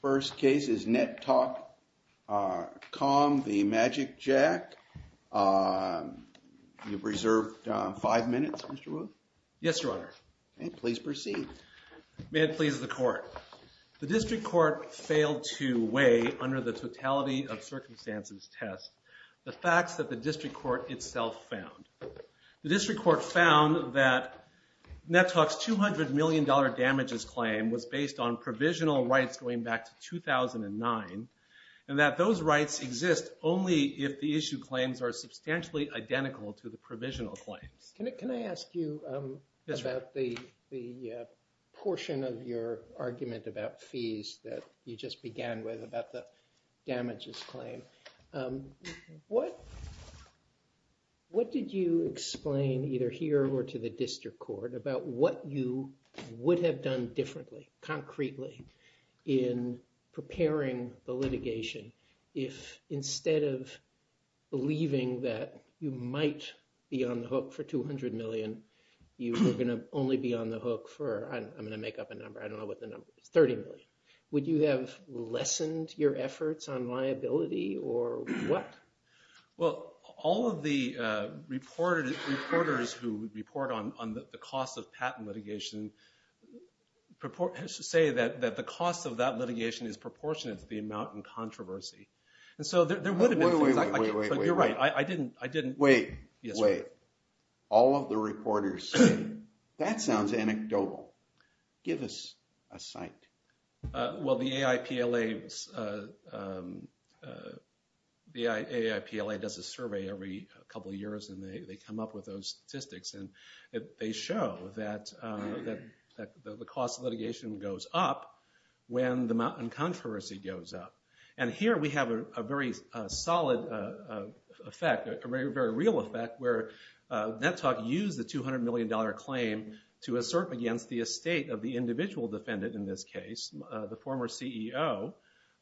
First case is NetTalk.com v. magicJack. You've reserved five minutes, Mr. Wu. Yes, Your Honor. Please proceed. May it please the Court. The District Court failed to weigh, under the Totality of Circumstances test, the facts that the District Court itself found. The District Court found that NetTalk's $200 million damages claim was based on provisional rights going back to 2009, and that those rights exist only if the issue claims are substantially identical to the provisional claims. Can I ask you about the portion of your argument about fees that you just began with about the damages claim? What did you explain, either here or to the District Court, about what you would have done differently, concretely, in preparing the litigation if, instead of believing that you might be on the hook for $200 million, you were going to only be on the hook for, I'm going to make up a number, I don't know what the number is, $30 million? Would you have lessened your efforts on liability, or what? Well, all of the reporters who report on the cost of patent litigation say that the cost of that litigation is proportionate to the amount in controversy. Wait, wait, wait. You're right, I didn't. Wait, wait. All of the reporters say, that sounds anecdotal. Give us a site. Well, the AIPLA does a survey every couple years, and they come up with those statistics, and they show that the cost of litigation goes up when the amount in controversy goes up. And here we have a very solid effect, a very real effect, where Nettalk used the $200 million claim to assert against the estate of the individual defendant in this case, the former CEO.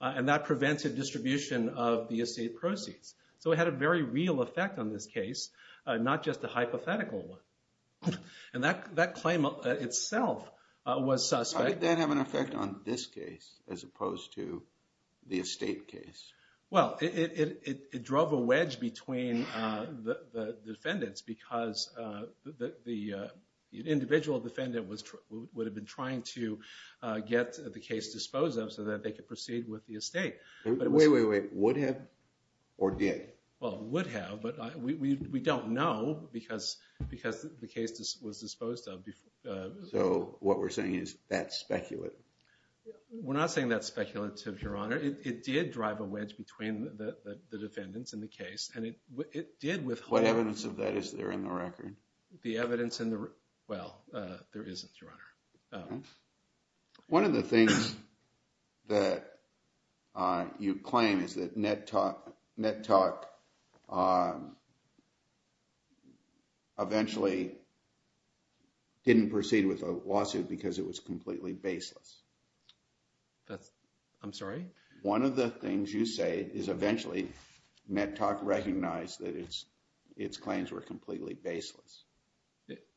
And that prevented distribution of the estate proceeds. So it had a very real effect on this case, not just a hypothetical one. And that claim itself was suspect. Why did that have an effect on this case, as opposed to the estate case? Well, it drove a wedge between the defendants, because the individual defendant would have been trying to get the case disposed of so that they could proceed with the estate. Wait, wait, wait. Would have, or did? Well, would have, but we don't know, because the case was disposed of. So what we're saying is that's speculative. We're not saying that's speculative, Your Honor. It did drive a wedge between the defendants in the case, and it did withhold— What evidence of that is there in the record? The evidence in the—well, there isn't, Your Honor. One of the things that you claim is that Nettock eventually didn't proceed with the lawsuit because it was completely baseless. I'm sorry? One of the things you say is eventually Nettock recognized that its claims were completely baseless.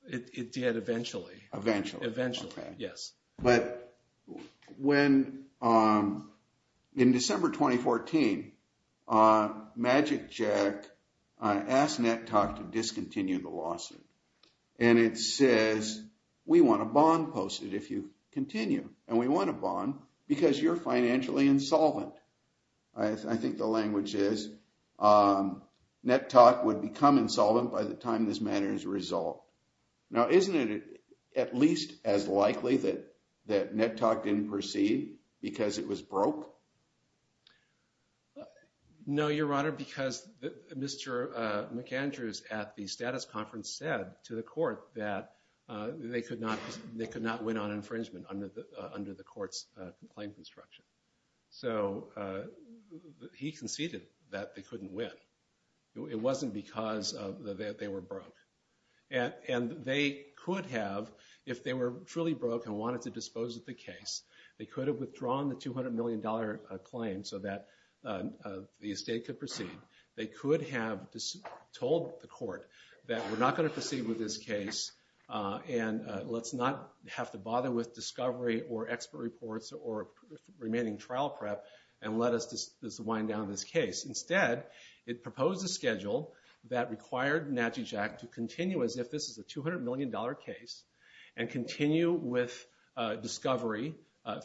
It did eventually. Eventually. Eventually, yes. But when—in December 2014, MagicJack asked Nettock to discontinue the lawsuit. And it says, we want a bond posted if you continue, and we want a bond because you're financially insolvent. I think the language is Nettock would become insolvent by the time this matter is resolved. Now, isn't it at least as likely that Nettock didn't proceed because it was broke? No, Your Honor, because Mr. McAndrews at the status conference said to the court that they could not win on infringement under the court's claim construction. So he conceded that they couldn't win. It wasn't because they were broke. And they could have, if they were truly broke and wanted to dispose of the case, they could have withdrawn the $200 million claim so that the estate could proceed. They could have told the court that we're not going to proceed with this case, and let's not have to bother with discovery or expert reports or remaining trial prep and let us just wind down this case. Instead, it proposed a schedule that required Natchezack to continue as if this is a $200 million case and continue with discovery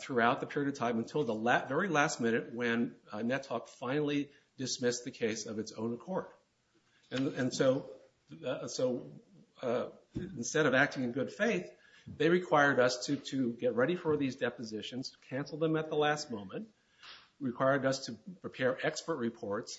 throughout the period of time until the very last minute when Nettock finally dismissed the case of its own accord. And so instead of acting in good faith, they required us to get ready for these depositions, cancel them at the last moment, required us to prepare expert reports.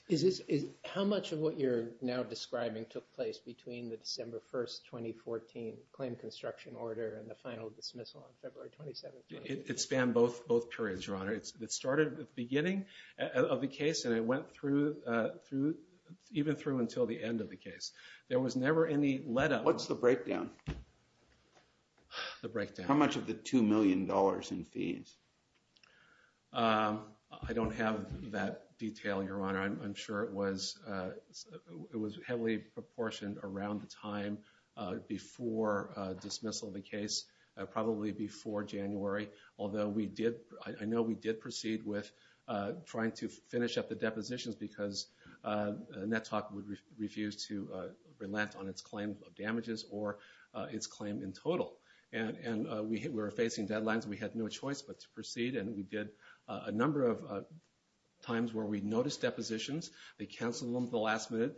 How much of what you're now describing took place between the December 1st, 2014 claim construction order and the final dismissal on February 27th? It spanned both periods, Your Honor. It started at the beginning of the case, and it went through, even through until the end of the case. There was never any letup. What's the breakdown? The breakdown. How much of the $2 million in fees? I don't have that detail, Your Honor. I'm sure it was heavily proportioned around the time before dismissal of the case, probably before January, although I know we did proceed with trying to finish up the depositions because Nettock would refuse to relent on its claim of damages or its claim in total. And we were facing deadlines. We had no choice but to proceed, and we did a number of times where we noticed depositions. They canceled them at the last minute.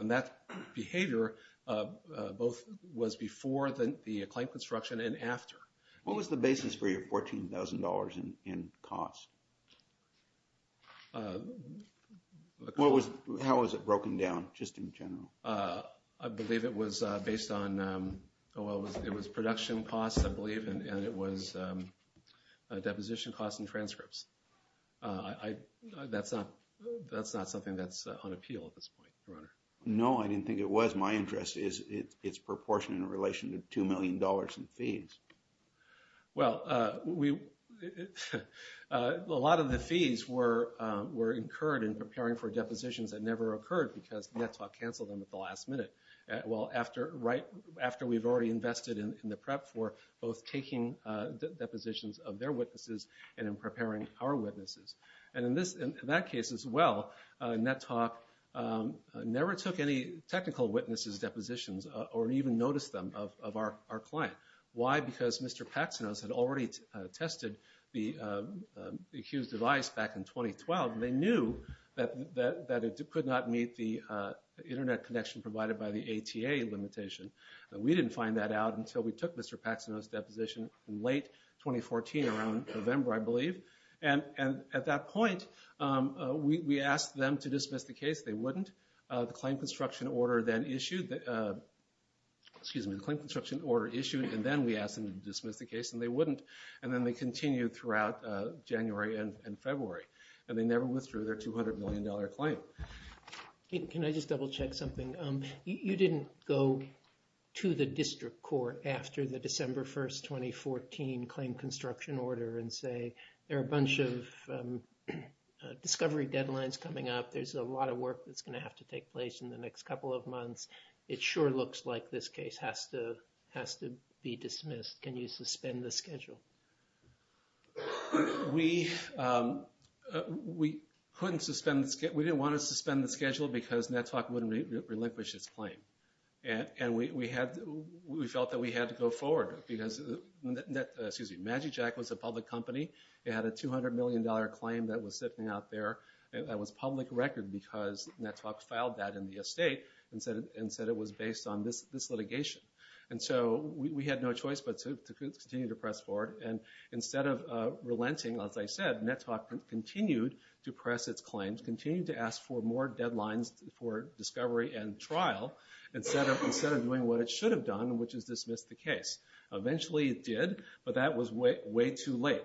And that behavior both was before the claim construction and after. What was the basis for your $14,000 in cost? How was it broken down, just in general? I believe it was based on production costs, I believe, and it was deposition costs and transcripts. That's not something that's on appeal at this point, Your Honor. No, I didn't think it was. My interest is its proportion in relation to $2 million in fees. Well, a lot of the fees were incurred in preparing for depositions that never occurred because Nettock canceled them at the last minute. Well, right after we've already invested in the prep for both taking depositions of their witnesses and in preparing our witnesses. And in that case as well, Nettock never took any technical witnesses' depositions or even noticed them of our client. Why? Because Mr. Paxonos had already tested the accused device back in 2012, and they knew that it could not meet the Internet connection provided by the ATA limitation. We didn't find that out until we took Mr. Paxonos' deposition in late 2014, around November, I believe. And at that point, we asked them to dismiss the case. They wouldn't. The claim construction order issued, and then we asked them to dismiss the case, and they wouldn't. And then they continued throughout January and February, and they never withdrew their $200 million claim. Can I just double-check something? You didn't go to the district court after the December 1, 2014, claim construction order and say, there are a bunch of discovery deadlines coming up. There's a lot of work that's going to have to take place in the next couple of months. It sure looks like this case has to be dismissed. Can you suspend the schedule? We couldn't suspend the schedule. We didn't want to suspend the schedule because Nettock wouldn't relinquish its claim. And we felt that we had to go forward because MagicJack was a public company. It had a $200 million claim that was sitting out there that was public record because Nettock filed that in the estate and said it was based on this litigation. And so we had no choice but to continue to press forward. And instead of relenting, as I said, Nettock continued to press its claims, continued to ask for more deadlines for discovery and trial instead of doing what it should have done, which is dismiss the case. Eventually it did, but that was way too late.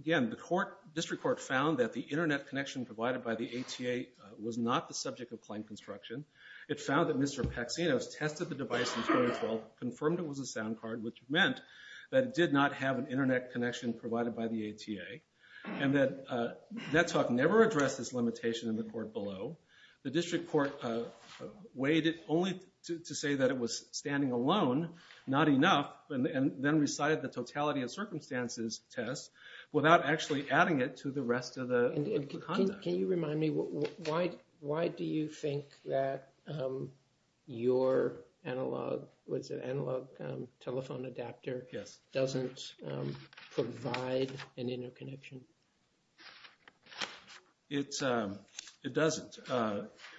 Again, the district court found that the internet connection provided by the ATA was not the subject of claim construction. It found that Mr. Paxinos tested the device in 2012, confirmed it was a sound card, which meant that it did not have an internet connection provided by the ATA. And that Nettock never addressed this limitation in the court below. The district court weighed it only to say that it was standing alone, not enough, and then recited the totality of circumstances test without actually adding it to the rest of the conduct. Can you remind me, why do you think that your analog telephone adapter doesn't provide an interconnection? It doesn't.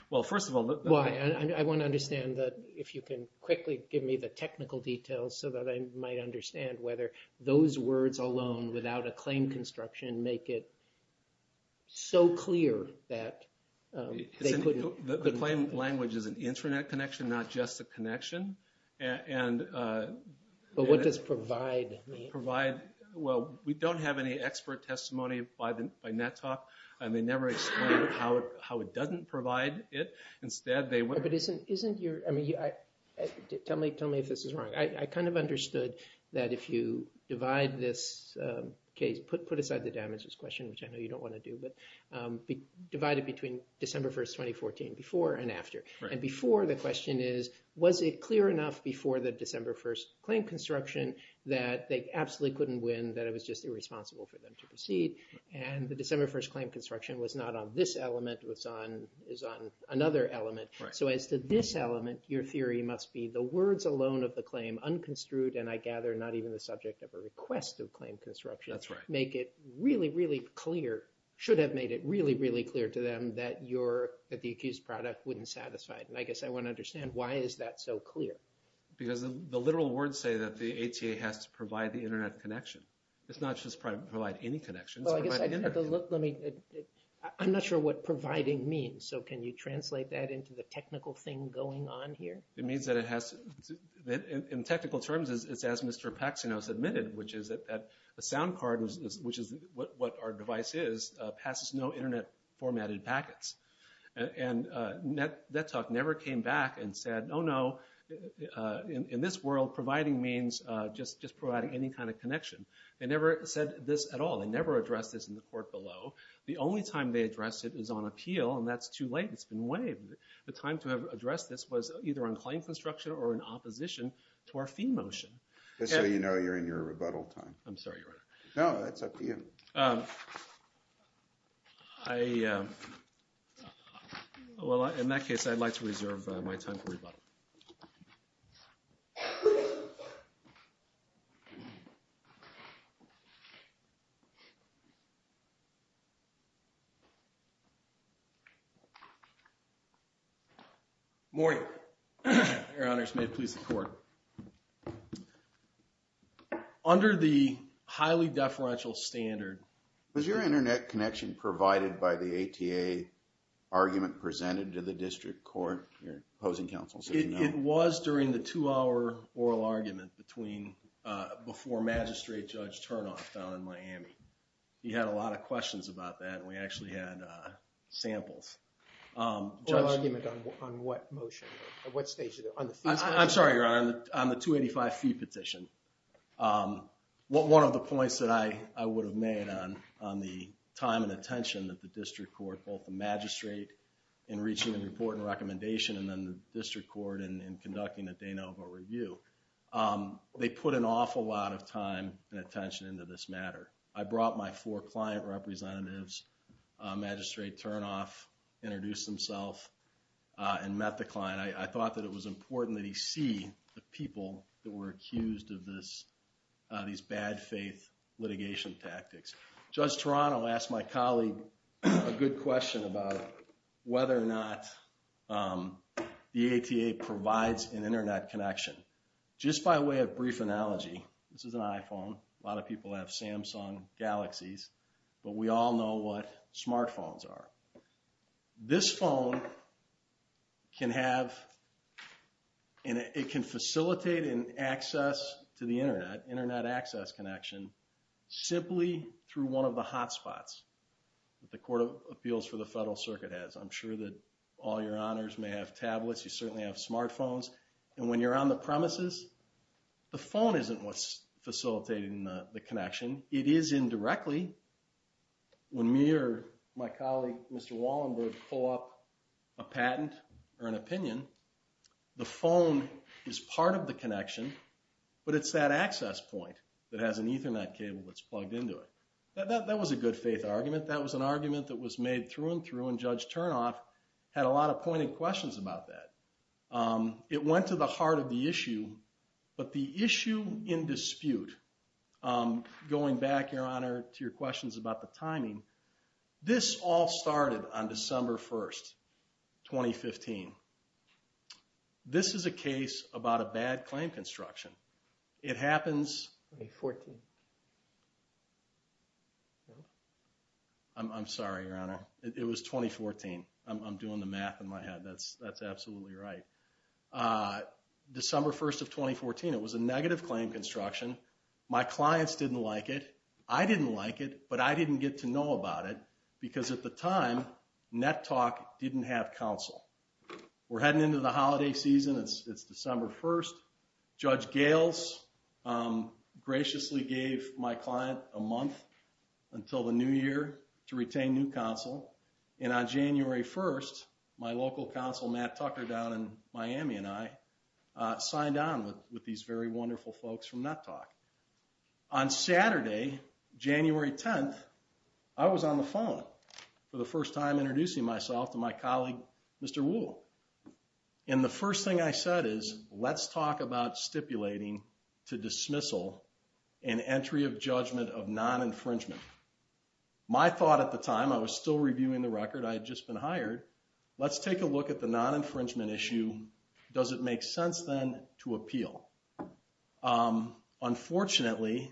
Well, first of all... I want to understand that if you can quickly give me the technical details so that I might understand whether those words alone without a claim construction make it so clear that they couldn't... The claim language is an internet connection, not just a connection. But what does provide mean? Well, we don't have any expert testimony by Nettock, and they never explain how it doesn't provide it. Tell me if this is wrong. I kind of understood that if you divide this case, put aside the damages question, which I know you don't want to do, but divide it between December 1st, 2014, before and after. And before, the question is, was it clear enough before the December 1st claim construction that they absolutely couldn't win, that it was just irresponsible for them to proceed? And the December 1st claim construction was not on this element. It was on another element. So as to this element, your theory must be the words alone of the claim, unconstrued, and I gather not even the subject of a request of claim construction... That's right. ...make it really, really clear, should have made it really, really clear to them that the accused product wouldn't satisfy it. And I guess I want to understand, why is that so clear? Because the literal words say that the ATA has to provide the internet connection. It's not just provide any connection. Well, I guess, let me, I'm not sure what providing means. So can you translate that into the technical thing going on here? It means that it has to, in technical terms, it's as Mr. Paxson has admitted, which is that a sound card, which is what our device is, passes no internet formatted packets. And that talk never came back and said, Oh, no, in this world, providing means just providing any kind of connection. They never said this at all. They never addressed this in the court below. The only time they addressed it is on appeal, and that's too late. It's been waived. The time to have addressed this was either on claim construction or in opposition to our fee motion. Just so you know, you're in your rebuttal time. I'm sorry, Your Honor. No, that's up to you. I, well, in that case, I'd like to reserve my time for rebuttal. Morning, Your Honors. Your Honor, under the highly deferential standard. Was your internet connection provided by the ATA argument presented to the district court? Your opposing counsel said no. It was during the two-hour oral argument between, before Magistrate Judge Turnoff down in Miami. He had a lot of questions about that, and we actually had samples. Oral argument on what motion? At what stage? I'm sorry, Your Honor. On the 285 fee petition. One of the points that I would have made on the time and attention that the district court, both the magistrate in reaching a report and recommendation, and then the district court in conducting a de novo review. They put an awful lot of time and attention into this matter. I brought my four client representatives. Magistrate Turnoff introduced himself and met the client. I thought that it was important that he see the people that were accused of these bad faith litigation tactics. Judge Turano asked my colleague a good question about whether or not the ATA provides an internet connection. Just by way of brief analogy, this is an iPhone. A lot of people have Samsung Galaxies. But we all know what smartphones are. This phone can have and it can facilitate an access to the internet, internet access connection, simply through one of the hot spots that the Court of Appeals for the Federal Circuit has. I'm sure that all your honors may have tablets. You certainly have smartphones. And when you're on the premises, the phone isn't what's facilitating the connection. It is indirectly. When me or my colleague, Mr. Wallenberg, pull up a patent or an opinion, the phone is part of the connection, but it's that access point that has an ethernet cable that's plugged into it. That was a good faith argument. That was an argument that was made through and through, and Judge Turnoff had a lot of pointed questions about that. It went to the heart of the issue. But the issue in dispute, going back, Your Honor, to your questions about the timing, this all started on December 1st, 2015. This is a case about a bad claim construction. It happens... I'm sorry, Your Honor. It was 2014. I'm doing the math in my head. That's absolutely right. December 1st of 2014. It was a negative claim construction. My clients didn't like it. I didn't like it, but I didn't get to know about it because, at the time, NetTalk didn't have counsel. We're heading into the holiday season. It's December 1st. Judge Gales graciously gave my client a month until the new year to retain new counsel. And on January 1st, my local counsel, Matt Tucker, down in Miami, and I signed on with these very wonderful folks from NetTalk. On Saturday, January 10th, I was on the phone for the first time introducing myself to my colleague, Mr. Wuhl. And the first thing I said is, let's talk about stipulating to dismissal an entry of judgment of non-infringement. My thought at the time, I was still reviewing the record. I had just been hired. Let's take a look at the non-infringement issue. Does it make sense then to appeal? Unfortunately,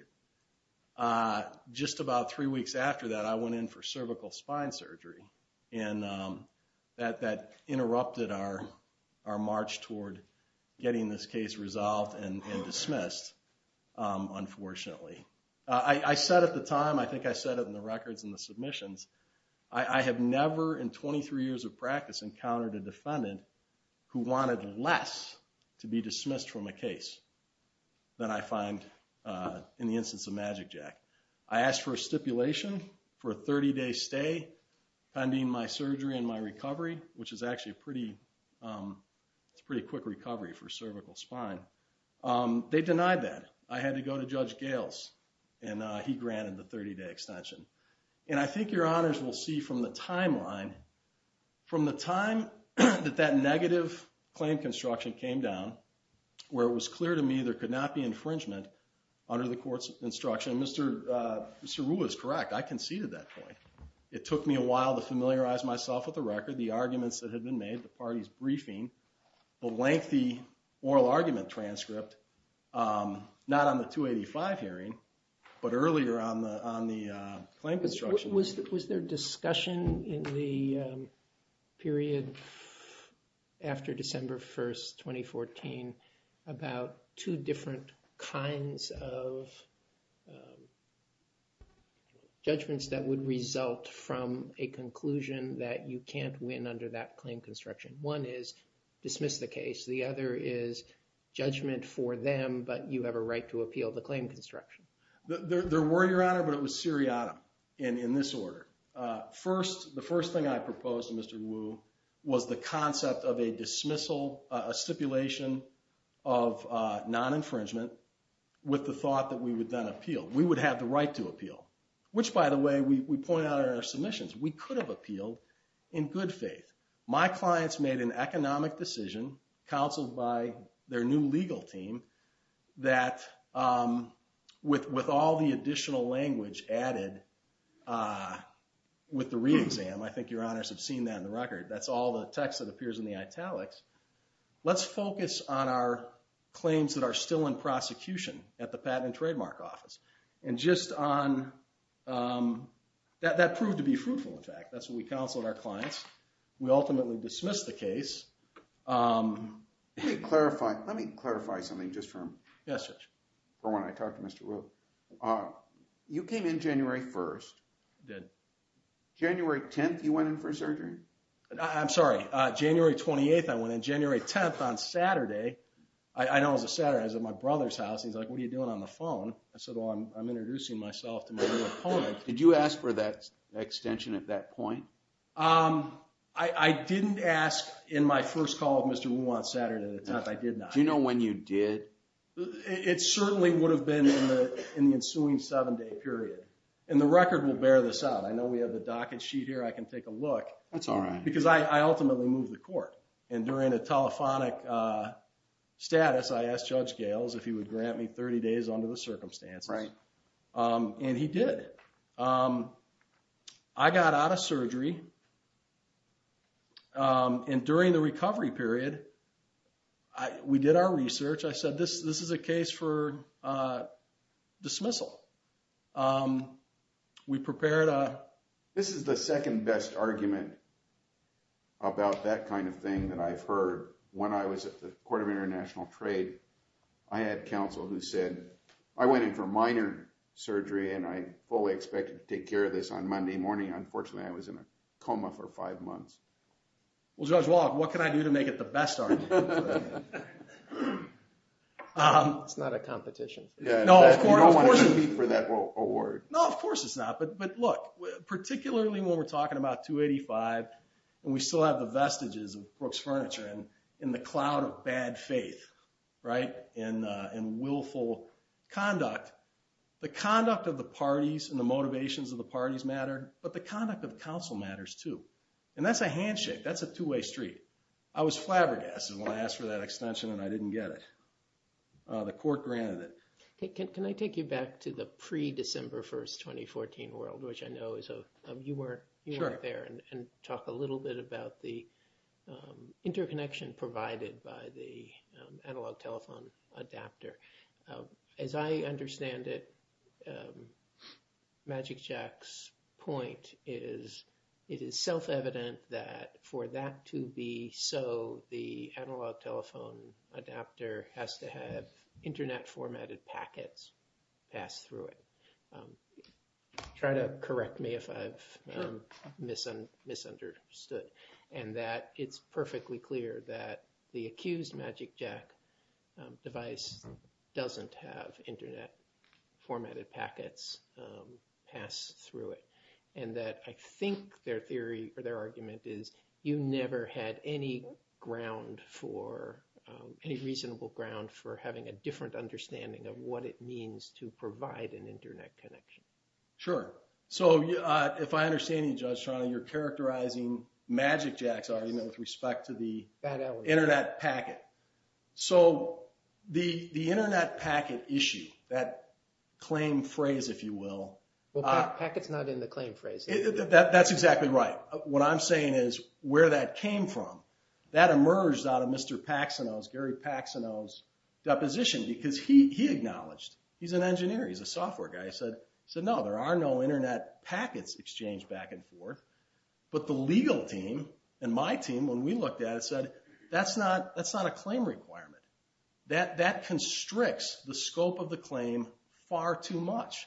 just about three weeks after that, I went in for cervical spine surgery, and that interrupted our march toward getting this case resolved and dismissed, unfortunately. I said at the time, I think I said it in the records and the submissions, I have never in 23 years of practice encountered a defendant who wanted less to be dismissed from a case than I find in the instance of MagicJack. I asked for a stipulation for a 30-day stay pending my surgery and my recovery, which is actually a pretty quick recovery for cervical spine. They denied that. I had to go to Judge Gales, and he granted the 30-day extension. And I think your honors will see from the timeline, from the time that that negative claim construction came down, where it was clear to me there could not be infringement under the court's instruction. Mr. Rueh is correct. I conceded that point. It took me a while to familiarize myself with the record, the arguments that had been made, the party's briefing, the lengthy oral argument transcript, not on the 285 hearing, but earlier on the claim construction. Was there discussion in the period after December 1st, 2014, about two different kinds of judgments that would result from a conclusion that you can't win under that claim construction? One is dismiss the case. The other is judgment for them, but you have a right to appeal the claim construction. There were, your honor, but it was seriatim in this order. The first thing I proposed to Mr. Rueh was the concept of a dismissal, a stipulation of non-infringement with the thought that we would then appeal. We would have the right to appeal, which, by the way, we point out in our submissions. We could have appealed in good faith. My clients made an economic decision, counseled by their new legal team, that with all the additional language added with the re-exam, I think your honors have seen that in the record, that's all the text that appears in the italics, let's focus on our claims that are still in prosecution at the Patent and Trademark Office. And just on, that proved to be fruitful, in fact. That's what we counseled our clients. We ultimately dismissed the case. Let me clarify something just from when I talked to Mr. Rueh. You came in January 1st. I did. January 10th, you went in for surgery? I'm sorry. January 28th, I went in. January 10th, on Saturday, I know it was a Saturday, I was at my brother's house. He's like, what are you doing on the phone? I said, well, I'm introducing myself to my new opponent. Did you ask for that extension at that point? I didn't ask in my first call with Mr. Rueh on Saturday. I did not. Do you know when you did? It certainly would have been in the ensuing seven-day period. And the record will bear this out. I know we have the docket sheet here. I can take a look. That's all right. Because I ultimately moved the court. And during the telephonic status, I asked Judge Gales if he would grant me 30 days under the circumstances. Right. And he did. I got out of surgery. And during the recovery period, we did our research. I said, this is a case for dismissal. We prepared a- This is the second best argument about that kind of thing that I've heard. When I was at the Court of International Trade, I had counsel who said, I went in for minor surgery and I fully expected to take care of this on Monday morning. Unfortunately, I was in a coma for five months. Well, Judge Wallach, what can I do to make it the best argument? It's not a competition. You don't want to compete for that award. No, of course it's not. But look, particularly when we're talking about 285 and we still have the vestiges of Brooks Furniture and the cloud of bad faith, right, and willful conduct, the conduct of the parties and the motivations of the parties matter, but the conduct of counsel matters too. And that's a handshake. That's a two-way street. I was flabbergasted when I asked for that extension and I didn't get it. The court granted it. Can I take you back to the pre-December 1, 2014 world, which I know is a- Sure. talk a little bit about the interconnection provided by the analog telephone adapter. As I understand it, MagicJack's point is it is self-evident that for that to be so, the analog telephone adapter has to have Internet-formatted packets pass through it. Try to correct me if I've misunderstood. And that it's perfectly clear that the accused MagicJack device doesn't have Internet-formatted packets pass through it. And that I think their theory or their argument is you never had any ground for, any reasonable ground for having a different understanding of what it means to provide an Internet connection. Sure. So if I understand you, Judge Toronto, you're characterizing MagicJack's argument with respect to the Internet packet. So the Internet packet issue, that claim phrase, if you will- Well, packet's not in the claim phrase. That's exactly right. What I'm saying is where that came from, that emerged out of Mr. Paxsono's, Gary Paxsono's, deposition because he acknowledged. He's an engineer. He's a software guy. He said, no, there are no Internet packets exchanged back and forth. But the legal team and my team, when we looked at it, said, that's not a claim requirement. That constricts the scope of the claim far too much.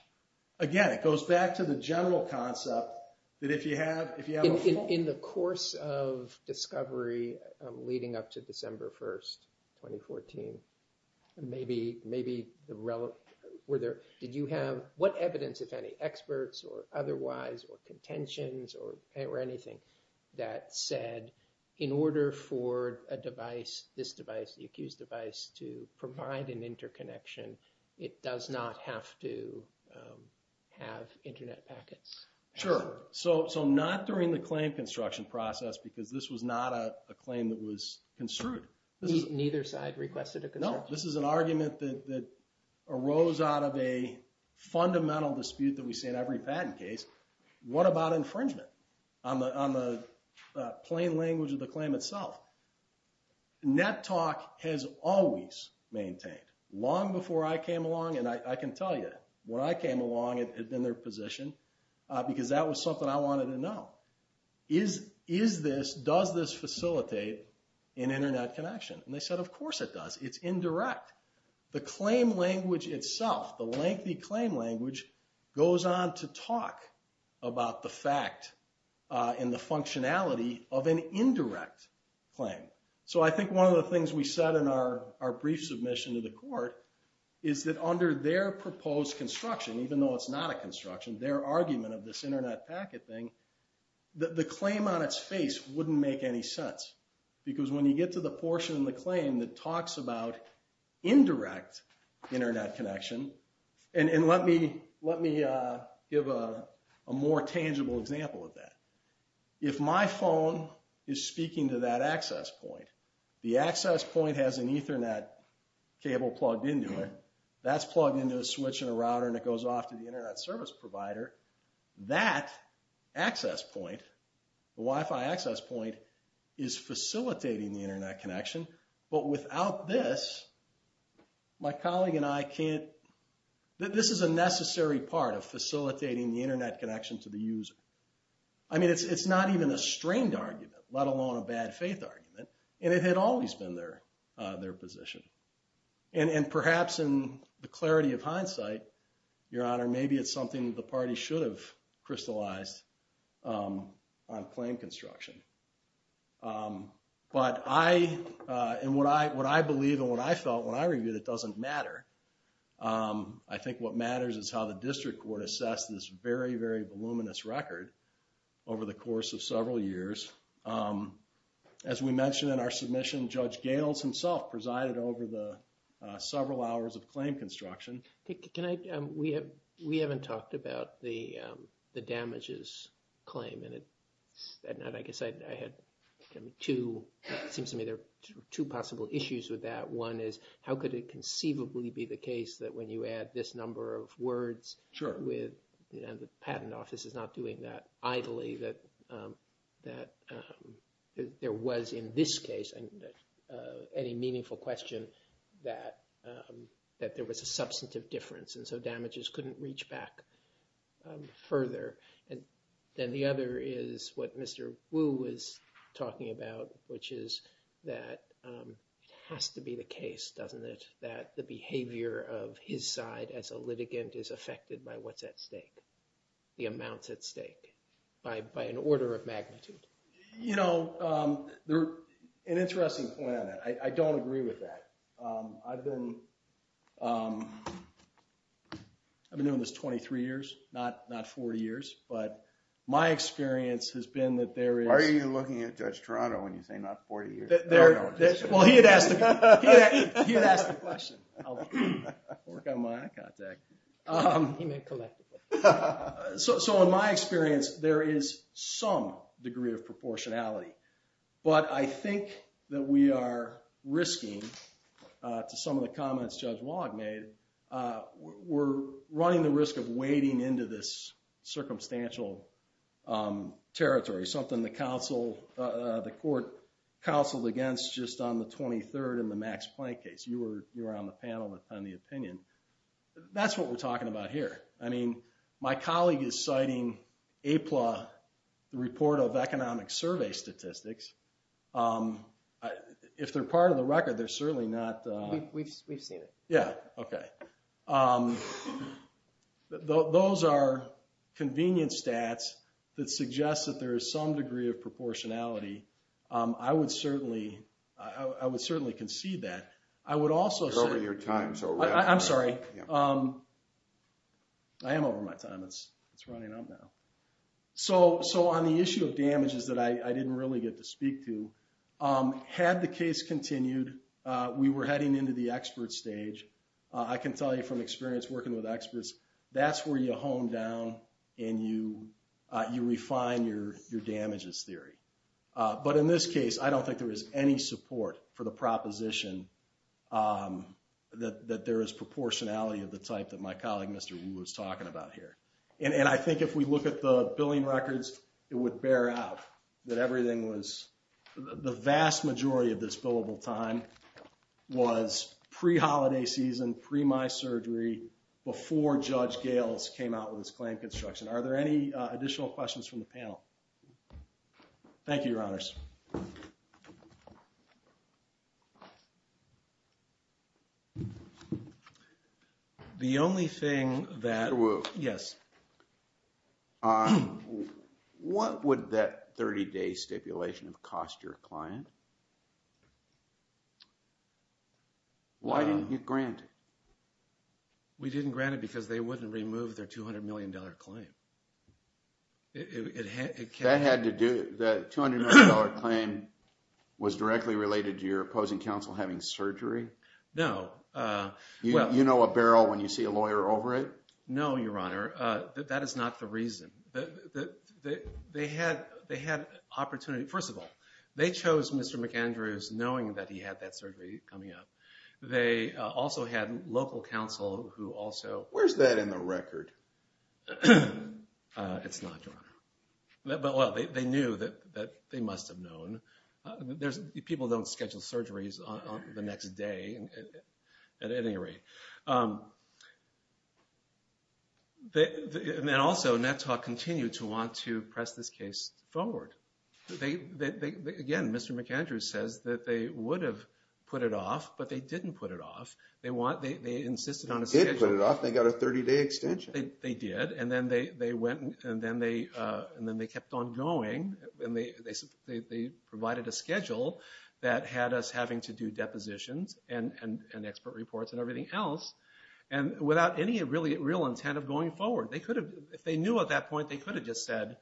Again, it goes back to the general concept that if you have- In the course of discovery leading up to December 1st, 2014, did you have what evidence, if any, experts or otherwise or contentions or anything that said in order for a device, this device, the accused device, to provide an interconnection, it does not have to have Internet packets? Sure. So not during the claim construction process because this was not a claim that was construed. Neither side requested a construction? No. This is an argument that arose out of a fundamental dispute that we see in every patent case. What about infringement on the plain language of the claim itself? NetTalk has always maintained, long before I came along, and I can tell you, when I came along, it had been their position because that was something I wanted to know. Is this, does this facilitate an Internet connection? And they said, of course it does. It's indirect. The claim language itself, the lengthy claim language, goes on to talk about the fact and the functionality of an indirect claim. So I think one of the things we said in our brief submission to the court is that under their proposed construction, even though it's not a construction, their argument of this Internet packet thing, the claim on its face wouldn't make any sense because when you get to the portion in the claim that talks about indirect Internet connection, and let me give a more tangible example of that. If my phone is speaking to that access point, the access point has an Ethernet cable plugged into it. That's plugged into a switch in a router and it goes off to the Internet service provider, that access point, the Wi-Fi access point, is facilitating the Internet connection, but without this, my colleague and I can't, this is a necessary part of facilitating the Internet connection to the user. I mean, it's not even a strained argument, let alone a bad faith argument, and it had always been their position. And perhaps in the clarity of hindsight, Your Honor, maybe it's something that the party should have crystallized on claim construction. But I, and what I believe and what I felt when I reviewed it doesn't matter. I think what matters is how the district court assessed this very, very voluminous record over the course of several years. As we mentioned in our submission, Judge Gales himself presided over the several hours of claim construction. Can I, we haven't talked about the damages claim, and I guess I had two, it seems to me there are two possible issues with that. One is how could it conceivably be the case that when you add this number of words with, and the patent office is not doing that idly, that there was in this case, any meaningful question, that there was a substantive difference, and so damages couldn't reach back further. And then the other is what Mr. Wu was talking about, which is that it has to be the case, doesn't it, that the behavior of his side as a litigant is affected by what's at stake, the amounts at stake, by an order of magnitude. You know, an interesting point on that. I don't agree with that. I've been doing this 23 years, not 40 years, but my experience has been that there is... Why are you looking at Judge Toronto when you say not 40 years? Well, he had asked the question. I'll work on my eye contact. He meant collectively. So in my experience, there is some degree of proportionality, but I think that we are risking, to some of the comments Judge Wallach made, we're running the risk of wading into this circumstantial territory, something the court counseled against just on the 23rd in the Max Planck case. You were on the panel on the opinion. That's what we're talking about here. I mean, my colleague is citing APLA, the report of economic survey statistics. If they're part of the record, they're certainly not... We've seen it. Yeah, okay. Those are convenient stats that suggest that there is some degree of proportionality. I would certainly concede that. I would also say... You're over your time, so... I'm sorry. I am over my time. It's running out now. So on the issue of damages that I didn't really get to speak to, had the case continued, we were heading into the expert stage. I can tell you from experience working with experts, that's where you hone down and you refine your damages theory. But in this case, I don't think there is any support for the proposition that there is proportionality of the type that my colleague, Mr. Wu, was talking about here. And I think if we look at the billing records, it would bear out that everything was... The vast majority of this billable time was pre-holiday season, pre-my surgery, before Judge Gales came out with his claim construction. Thank you, Your Honors. The only thing that... Mr. Wu. Yes. What would that 30-day stipulation have cost your client? Why didn't you grant it? We didn't grant it because they wouldn't remove their $200 million claim. That had to do... That $200 million claim was directly related to your opposing counsel having surgery? No. You know a barrel when you see a lawyer over it? No, Your Honor. That is not the reason. They had opportunity... First of all, they chose Mr. McAndrews knowing that he had that surgery coming up. They also had local counsel who also... Where's that in the record? It's not, Your Honor. They knew that they must have known. People don't schedule surgeries the next day. At any rate... Also, NETOC continued to want to press this case forward. Again, Mr. McAndrews says that they would have put it off, but they didn't put it off. They insisted on a schedule. They did put it off. They got a 30-day extension. They did, and then they kept on going. They provided a schedule that had us having to do depositions and expert reports and everything else. Without any real intent of going forward, they could have... If they knew at that point, they could have just said,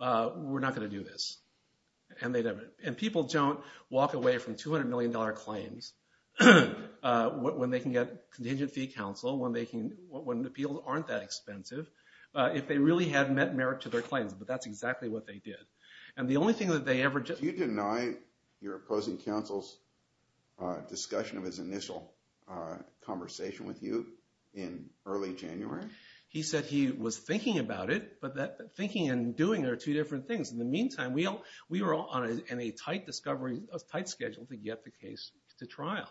We're not going to do this. People don't walk away from $200 million claims when they can get contingent fee counsel, when appeals aren't that expensive, if they really had met merit to their claims. But that's exactly what they did. The only thing that they ever... Did you deny your opposing counsel's discussion of his initial conversation with you in early January? He said he was thinking about it, but thinking and doing are two different things. In the meantime, we were all on a tight schedule to get the case to trial.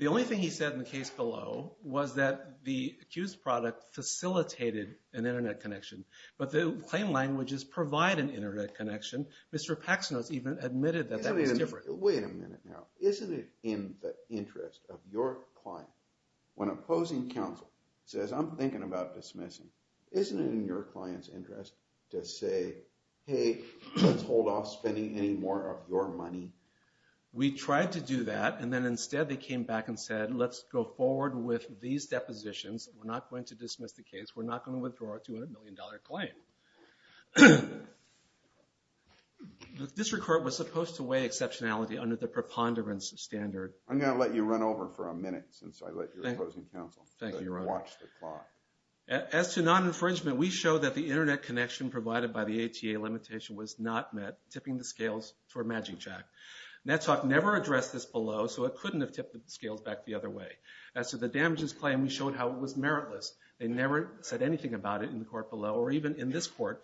The only thing he said in the case below was that the accused product facilitated an Internet connection, but the claim languages provide an Internet connection. Mr. Paxnos even admitted that that was different. Wait a minute now. Isn't it in the interest of your client, when opposing counsel says, I'm thinking about dismissing, Isn't it in your client's interest to say, Hey, let's hold off spending any more of your money? We tried to do that, and then instead they came back and said, Let's go forward with these depositions. We're not going to dismiss the case. We're not going to withdraw a $200 million claim. The district court was supposed to weigh exceptionality under the preponderance standard. I'm going to let you run over for a minute, since I let your opposing counsel watch the clock. As to non-infringement, we showed that the Internet connection provided by the ATA limitation was not met, tipping the scales toward MagicJack. NetTalk never addressed this below, so it couldn't have tipped the scales back the other way. As to the damages claim, we showed how it was meritless. They never said anything about it in the court below, or even in this court,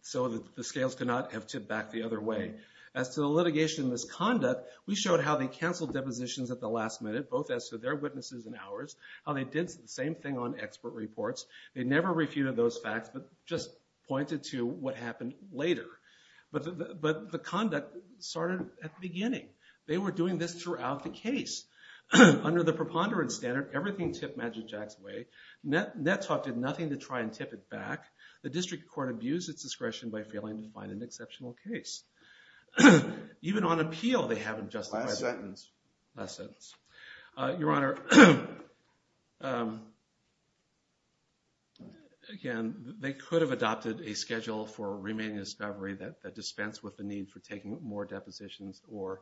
so the scales could not have tipped back the other way. As to the litigation misconduct, we showed how they canceled depositions at the last minute, both as to their witnesses and ours, how they did the same thing on expert reports. They never refuted those facts, but just pointed to what happened later. But the conduct started at the beginning. They were doing this throughout the case. Under the preponderance standard, everything tipped MagicJack's way. NetTalk did nothing to try and tip it back. The district court abused its discretion by failing to find an exceptional case. Even on appeal, they haven't justified it. Last sentence. Last sentence. Your Honor, again, they could have adopted a schedule for remaining discovery that dispensed with the need for taking more depositions or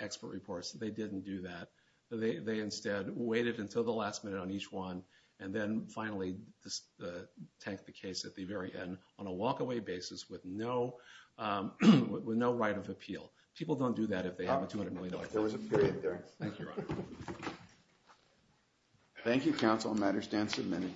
expert reports. They didn't do that. They instead waited until the last minute on each one, and then finally tanked the case at the very end on a walk-away basis with no right of appeal. People don't do that if they have a $200 million claim. There was a period there. Thank you, Your Honor. Thank you, counsel. Matter stands submitted.